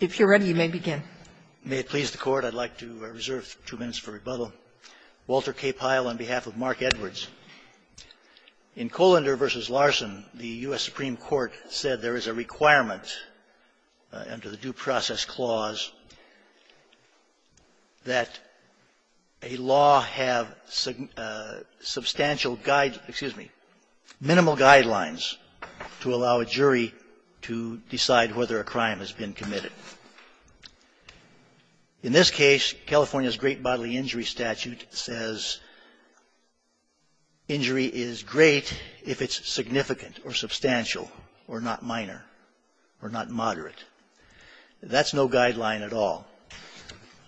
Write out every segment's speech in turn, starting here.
If you're ready, you may begin. May it please the Court, I'd like to reserve two minutes for rebuttal. Walter K. Pyle on behalf of Mark Edwards. In Kohlander v. Larson, the U.S. Supreme Court said there is a requirement under the Due Process Clause that a law have substantial guide -- excuse me, minimal guidelines to allow a jury to decide whether a crime has been committed. In this case, California's Great Bodily Injury Statute says injury is great if it's significant or substantial or not minor or not moderate. That's no guideline at all.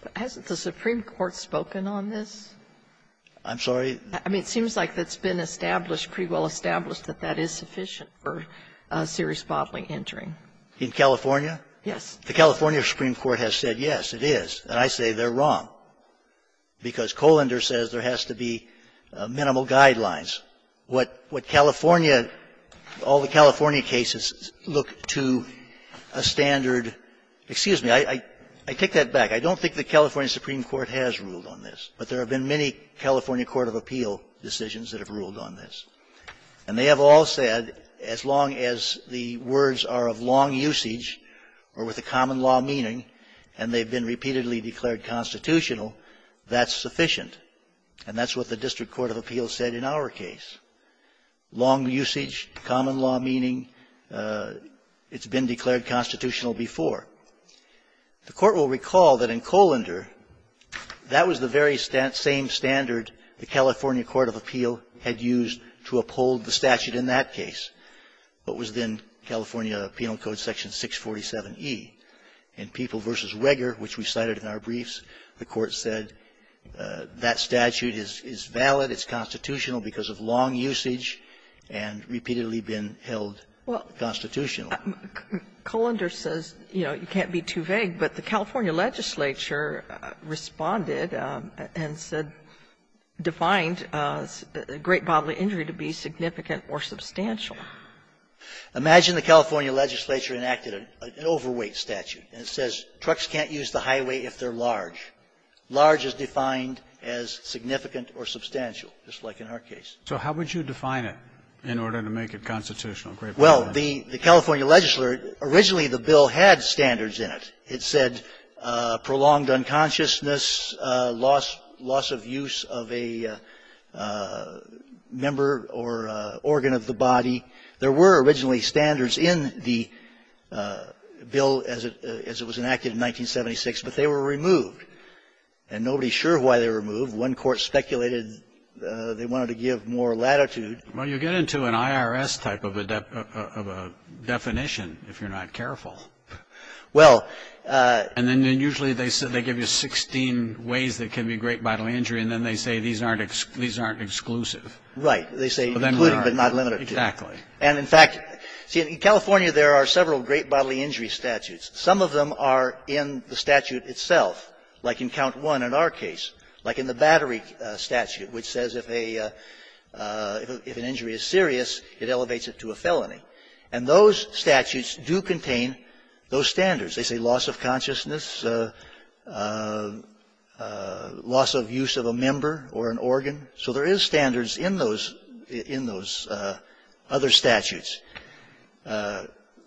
Sotomayor Hasn't the Supreme Court spoken on this? Kagan I'm sorry? I mean, it seems like it's been established, pretty well established, that that is sufficient for serious bodily injuring. Kagan In California? Sotomayor Yes. Kagan The California Supreme Court has said, yes, it is. And I say they're wrong, because Kohlander says there has to be minimal guidelines. What California, all the California cases look to a standard --- excuse me, I take that back. I don't think the California Supreme Court has ruled on this, but there have been many California court of appeal decisions that have ruled on this. And they have all said, as long as the words are of long usage or with a common law meaning, and they've been repeatedly declared constitutional, that's sufficient. And that's what the District Court of Appeal said in our case. Long usage, common law meaning, it's been declared constitutional before. The Court will recall that in Kohlander, that was the very same standard the California Court of Appeal had used to uphold the statute in that case. What was then California Penal Code section 647e? In People v. Wreger, which we cited in our briefs, the Court said that statute is valid, it's constitutional because of long usage and repeatedly been held constitutional. Kagan, Kohlander says, you know, you can't be too vague, but the California legislature responded and said, defined great bodily injury to be significant or substantial. Imagine the California legislature enacted an overweight statute, and it says trucks can't use the highway if they're large. Large is defined as significant or substantial, just like in our case. So how would you define it in order to make it constitutional? Well, the California legislature, originally the bill had standards in it. It said prolonged unconsciousness, loss of use of a member or organ of the body. There were originally standards in the bill as it was enacted in 1976, but they were removed. And nobody's sure why they were removed. One court speculated they wanted to give more latitude. Well, you get into an IRS type of a definition if you're not careful. Well -- And then usually they give you 16 ways that can be great bodily injury, and then they say these aren't exclusive. Right. They say included, but not limited. Exactly. And, in fact, see, in California there are several great bodily injury statutes. Some of them are in the statute itself, like in Count 1 in our case, like in the battery statute, which says if a -- if an injury is serious, it elevates it to a felony. And those statutes do contain those standards. They say loss of consciousness, loss of use of a member or an organ. So there is standards in those other statutes.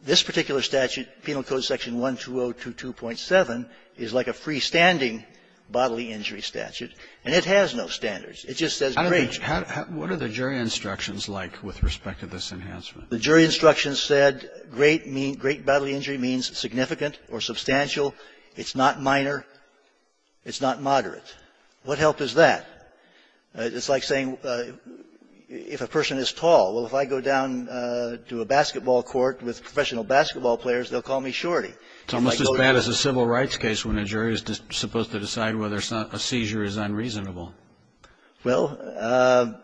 This particular statute, Penal Code Section 12022.7, is like a freestanding bodily injury statute, and it has no standards. It just says great. What are the jury instructions like with respect to this enhancement? The jury instructions said great bodily injury means significant or substantial. It's not minor. It's not moderate. What help is that? It's like saying if a person is tall, well, if I go down to a basketball court with professional basketball players, they'll call me shorty. It's almost as bad as a civil rights case when a jury is supposed to decide whether a seizure is unreasonable. Well,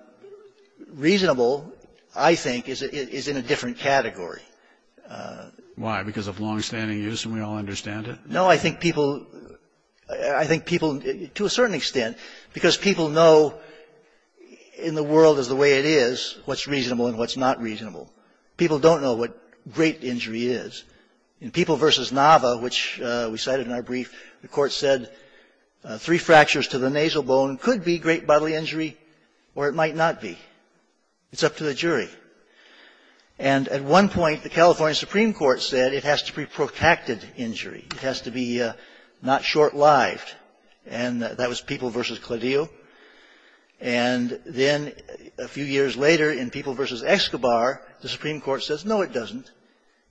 reasonable, I think, is in a different category. Why? Because of longstanding use, and we all understand it? No, I think people, I think people, to a certain extent, because people know in the world as the way it is, what's reasonable and what's not reasonable. People don't know what great injury is. In People v. Nava, which we cited in our brief, the court said three fractures to the nasal bone could be great bodily injury or it might not be. It's up to the jury. And at one point, the California Supreme Court said it has to be protected injury. It has to be not short-lived, and that was People v. Cladillo. And then a few years later, in People v. Escobar, the Supreme Court says, no, it doesn't.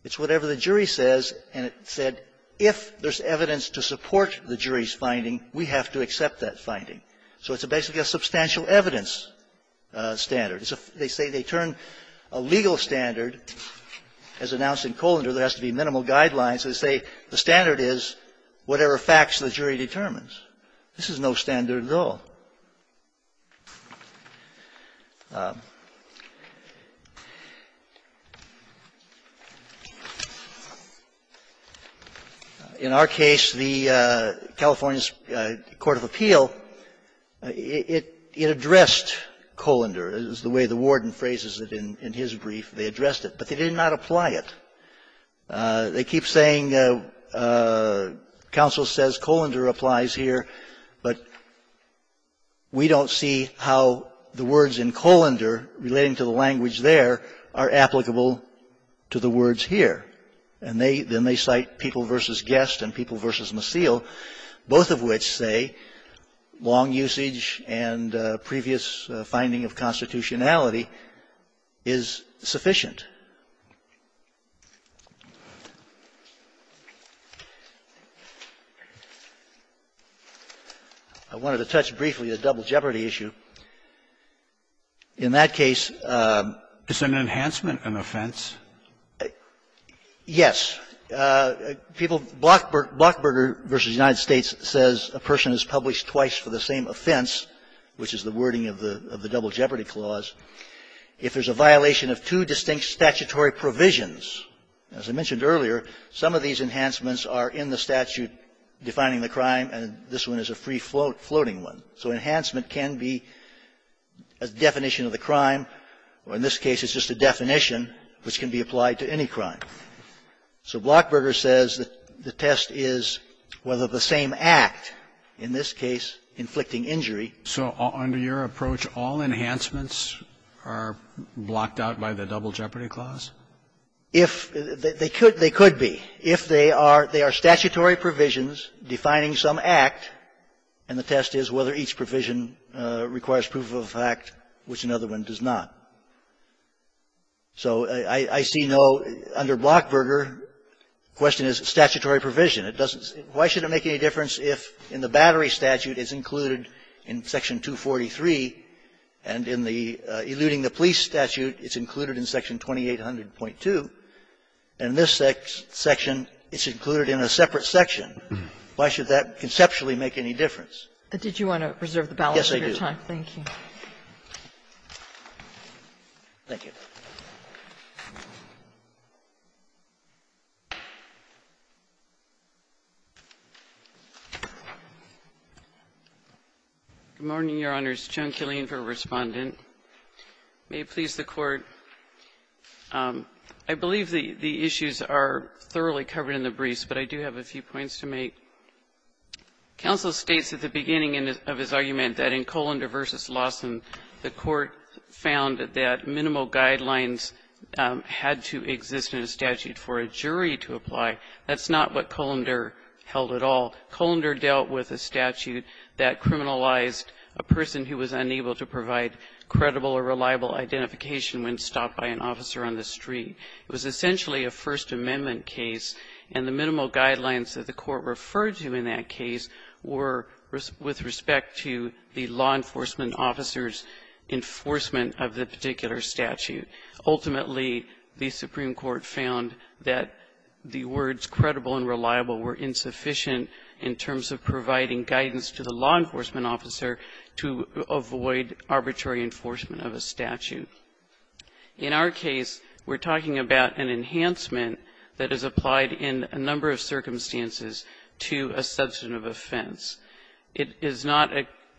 It's whatever the jury says, and it said, if there's evidence to support the jury's finding, we have to accept that finding. So it's basically a substantial evidence standard. They say they turn a legal standard. As announced in Colander, there has to be minimal guidelines. They say the standard is whatever facts the jury determines. This is no standard at all. In our case, the California's court of appeal, it addressed Colander. It was the way the warden phrases it in his brief. They addressed it, but they did not apply it. They keep saying, counsel says, Colander applies here, but we don't see how the words in Colander relating to the language there are applicable to the words here. And they then they cite People v. Guest and People v. Macille, both of which say long usage and previous finding of constitutionality is sufficient. I wanted to touch briefly on the double jeopardy issue. In that case ---- It's an enhancement of an offense. Yes. People, Blockburger v. United States says a person is published twice for the same offense, which is the wording of the double jeopardy clause. If there's a violation of two distinct statutory provisions, as I mentioned earlier, some of these enhancements are in the statute defining the crime, and this one is a free-floating one. So enhancement can be a definition of the crime, or in this case, it's just a definition which can be applied to any crime. So Blockburger says that the test is whether the same act, in this case, inflicting injury. So under your approach, all enhancements are blocked out by the double jeopardy clause? If they could, they could be. If they are, they are statutory provisions defining some act, and the test is whether each provision requires proof of fact, which another one does not. So I see no under Blockburger, the question is statutory provision. It doesn't say why should it make any difference if in the Battery statute it's included in Section 243, and in the Eluding the Police statute it's included in Section 2800.2, and this section it's included in a separate section. Why should that conceptually make any difference? But did you want to reserve the balance of your time? Yes, I do. Thank you. Thank you. Good morning, Your Honors. Joan Killeen for Respondent. May it please the Court. I believe the issues are thoroughly covered in the briefs, but I do have a few points to make. Counsel states at the beginning of his argument that in Colander v. Lawson, the Court found that minimal guidelines had to exist in a statute for a jury to apply. That's not what Colander held at all. Colander dealt with a statute that criminalized a person who was unable to provide credible or reliable identification when stopped by an officer on the street. It was essentially a First Amendment case, and the minimal guidelines that the Court referred to in that case were with respect to the law enforcement officer's enforcement of the particular statute. Ultimately, the Supreme Court found that the words credible and reliable were insufficient in terms of providing guidance to the law enforcement officer to avoid arbitrary enforcement of a statute. In our case, we're talking about an enhancement that is applied in a number of circumstances to a substantive offense. It is not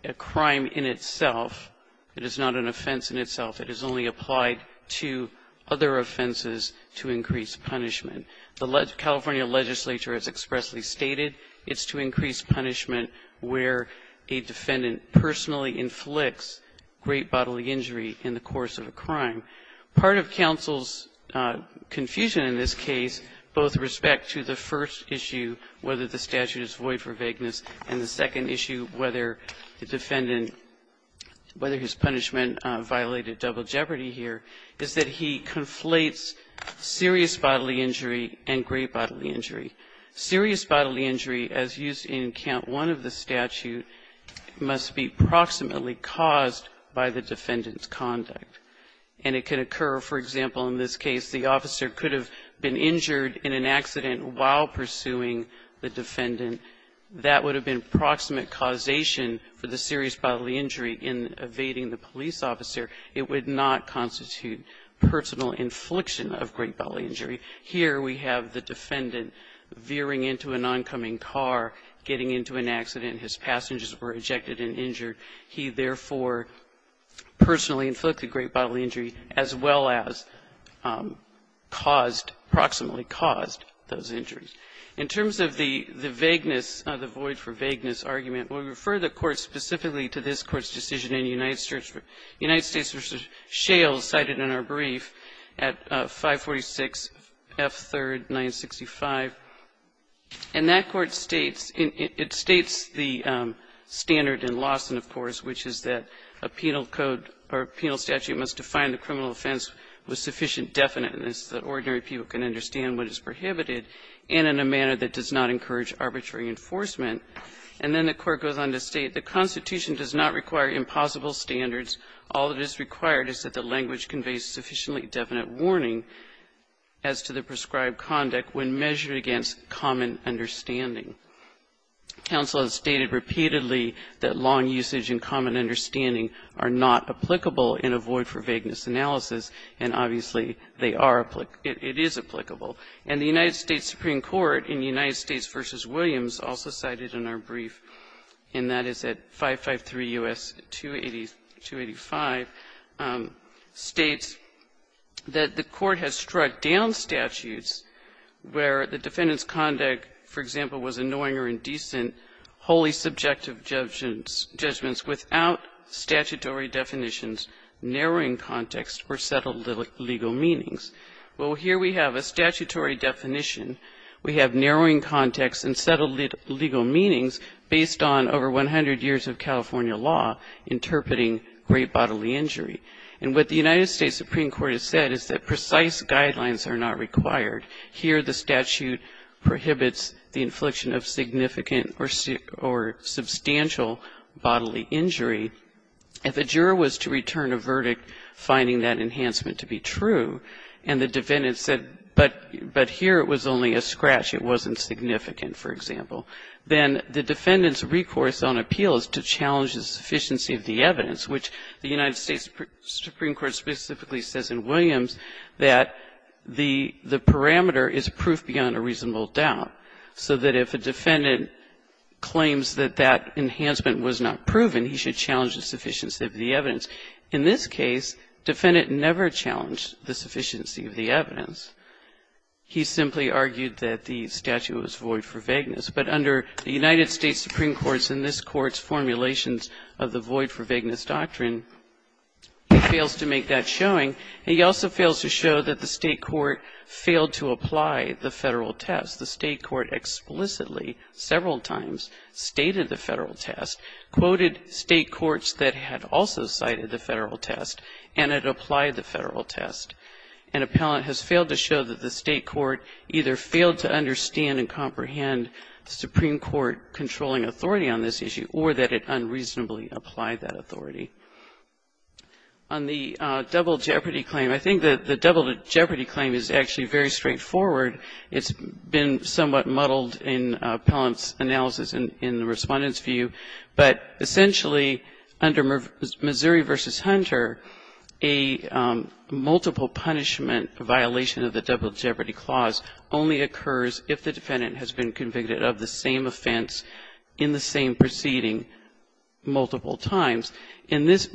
a crime in itself. It is not an offense in itself. It is only applied to other offenses to increase punishment. The California legislature has expressly stated it's to increase punishment where a defendant personally inflicts great bodily injury in the course of a crime. Part of counsel's confusion in this case, both with respect to the first issue, whether the statute is void for vagueness, and the second issue, whether the defendant – whether his punishment violated double jeopardy here, is that he conflates serious bodily injury and great bodily injury. Serious bodily injury, as used in Count 1 of the statute, must be proximately caused by the defendant's conduct. And it can occur, for example, in this case, the officer could have been injured in an accident while pursuing the defendant. That would have been proximate causation for the serious bodily injury in evading the police officer. It would not constitute personal infliction of great bodily injury. Here we have the defendant veering into an oncoming car, getting into an accident. His passengers were ejected and injured. He, therefore, personally inflicted great bodily injury as well as caused – proximately caused those injuries. In terms of the vagueness, the void for vagueness argument, we refer the Court specifically to this Court's decision in United States v. Shales cited in our brief at 546F3, paragraph 965. And that Court states – it states the standard in Lawson, of course, which is that a penal code or penal statute must define the criminal offense with sufficient definiteness that ordinary people can understand what is prohibited and in a manner that does not encourage arbitrary enforcement. And then the Court goes on to state the Constitution does not require impossible standards. All that is required is that the language conveys sufficiently definite warning as to the prescribed conduct when measured against common understanding. Counsel has stated repeatedly that long usage and common understanding are not applicable in a void for vagueness analysis, and obviously, they are – it is applicable. And the United States Supreme Court in United States v. Williams also cited in our brief at 546F3, paragraph 965, states that the Court has struck down statutes where the defendant's conduct, for example, was annoying or indecent, wholly subjective judgments without statutory definitions, narrowing context, or settled legal meanings. Well, here we have a statutory definition. We have narrowing context and settled legal meanings based on over 100 years of California law interpreting great bodily injury. And what the United States Supreme Court has said is that precise guidelines are not required. Here, the statute prohibits the infliction of significant or substantial bodily injury. If a juror was to return a verdict finding that enhancement to be true, and the defendant said, but here it was only a scratch, it wasn't significant, for example, then the defendant's recourse on appeal is to challenge the sufficiency of the evidence, which the United States Supreme Court specifically says in Williams that the parameter is proof beyond a reasonable doubt, so that if a defendant claims that that enhancement was not proven, he should challenge the sufficiency of the evidence. In this case, the defendant never challenged the sufficiency of the evidence. He simply argued that the statute was void for vagueness. But under the United States Supreme Court's and this Court's formulations of the void for vagueness doctrine, he fails to make that showing. And he also fails to show that the State court failed to apply the Federal test. The State court explicitly, several times, stated the Federal test, quoted State courts that had also cited the Federal test, and had applied the Federal test. An appellant has failed to show that the State court either failed to understand and comprehend the Supreme Court controlling authority on this issue, or that it unreasonably applied that authority. On the double jeopardy claim, I think that the double jeopardy claim is actually very straightforward. It's been somewhat muddled in appellant's analysis and in the Respondent's view. But essentially, under Missouri v. Hunter, a multiple punishment violation of the double jeopardy clause only occurs if the defendant has been convicted of the same offense in the same proceeding multiple times. In this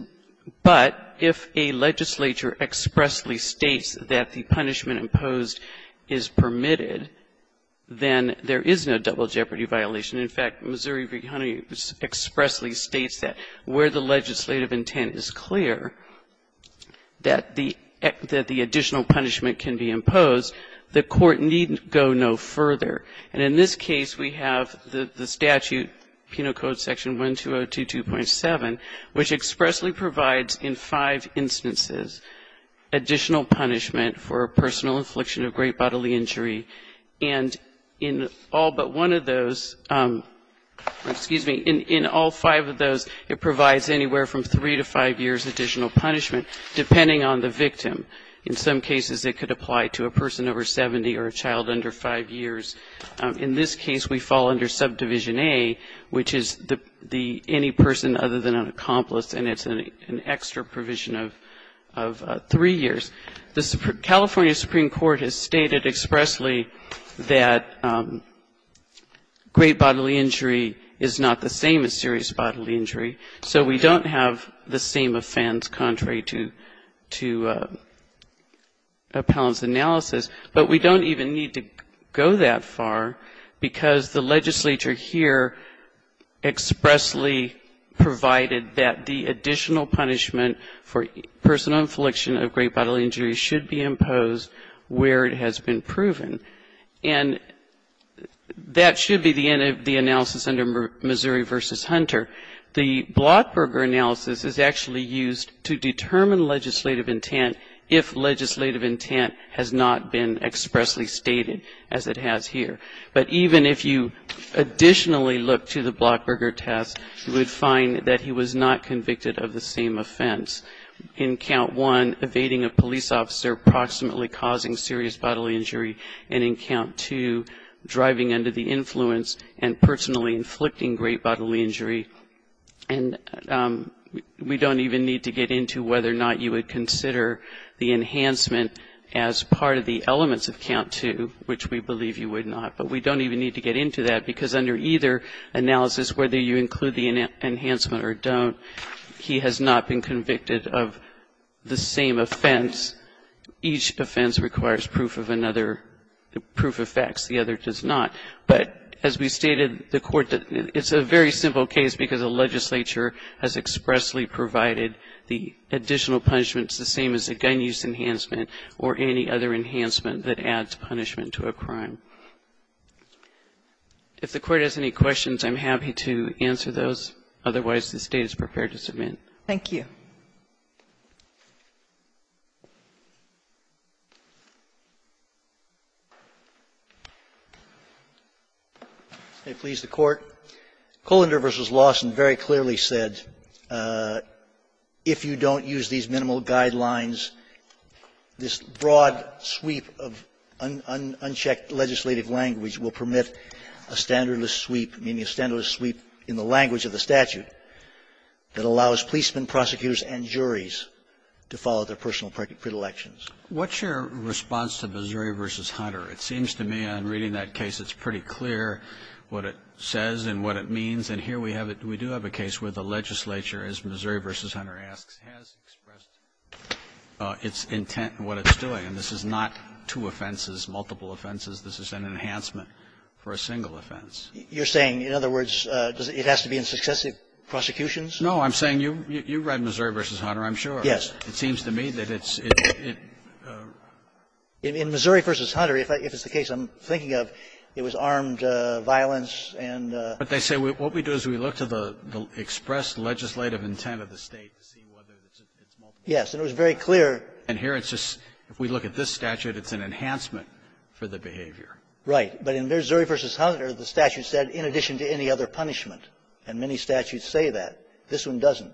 but, if a legislature expressly states that the punishment imposed is permitted, then there is no double jeopardy violation. In fact, Missouri v. Hunter expressly states that where the legislative intent is clear, that the act, that the act of the additional punishment can be imposed, the court need go no further. And in this case, we have the statute, Penal Code section 1202.7, which expressly provides in five instances additional punishment for personal infliction of great bodily injury. And in all but one of those, excuse me, in all five of those, it provides anywhere from three to five years additional punishment, depending on the victim. In some cases, it could apply to a person over 70 or a child under five years. In this case, we fall under Subdivision A, which is the any person other than an accomplice, and it's an extra provision of three years. The California Supreme Court has stated expressly that great bodily injury is not the same as serious bodily injury. So we don't have the same offense, contrary to the appellant's analysis, but we don't even need to go that far, because the legislature here expressly provided that the additional punishment for personal infliction of great bodily injury should be imposed where it has been proven. And that should be the end of the analysis under Missouri v. Hunter. The Blockberger analysis is actually used to determine legislative intent if legislative intent has not been expressly stated, as it has here. But even if you additionally look to the Blockberger test, you would find that he was not convicted of the same offense. In Count 1, evading a police officer approximately causing serious bodily injury, and in Count 2, driving under the influence and personally inflicting great bodily injury. And we don't even need to get into whether or not you would consider the enhancement as part of the elements of Count 2, which we believe you would not. But we don't even need to get into that, because under either analysis, whether you include the enhancement or don't, he has not been convicted of the same offense. Each offense requires proof of another, proof of facts. The other does not. But as we stated, the Court, it's a very simple case because the legislature has expressly provided the additional punishments the same as a gun use enhancement or any other enhancement that adds punishment to a crime. If the Court has any questions, I'm happy to answer those. Otherwise, the State is prepared to submit. Thank you. Sotomayor, please, the Court. Kohlander v. Lawson very clearly said, if you don't use these minimal guidelines, this broad sweep of unchecked legislative language will permit a standardless sweep, meaning a standardless sweep in the language of the statute that allows policemen, prosecutors and juries to follow their personal predilections. What's your response to Missouri v. Hunter? It seems to me on reading that case it's pretty clear what it says and what it means. And here we have it. We do have a case where the legislature, as Missouri v. Hunter asks, has expressed its intent in what it's doing. And this is not two offenses, multiple offenses. This is an enhancement for a single offense. You're saying, in other words, it has to be in successive prosecutions? No. I'm saying you read Missouri v. Hunter, I'm sure. Yes. It seems to me that it's – In Missouri v. Hunter, if it's the case I'm thinking of, it was armed violence and – But they say what we do is we look to the expressed legislative intent of the State to see whether it's multiple offenses. Yes. And it was very clear – And here it's just, if we look at this statute, it's an enhancement for the behavior. Right. But in Missouri v. Hunter, the statute said, in addition to any other punishment, and many statutes say that. This one doesn't.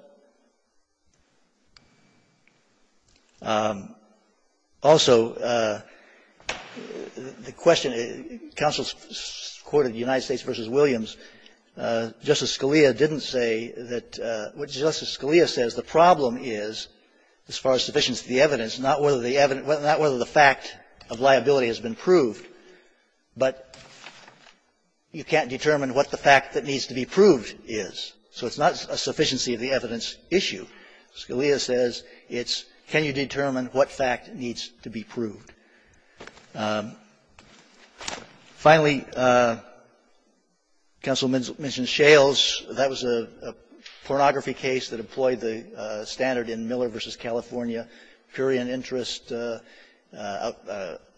Also, the question, counsel's court of the United States v. Williams, Justice Scalia didn't say that – what Justice Scalia says, the problem is, as far as sufficiency of the evidence, not whether the evidence – not whether the fact of liability has been proved. But you can't determine what the fact that needs to be proved is. So it's not a sufficiency of the evidence issue. Scalia says it's, can you determine what fact needs to be proved? Finally, counsel mentioned Shales. That was a pornography case that employed the standard in Miller v. California, pure in interest,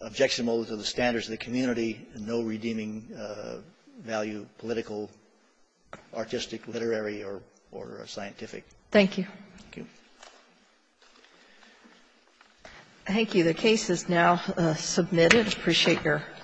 objectionable to the standards of the community, no redeeming value, political, artistic, literary, or scientific. Thank you. Thank you. Thank you. The case is now submitted. I appreciate your attention.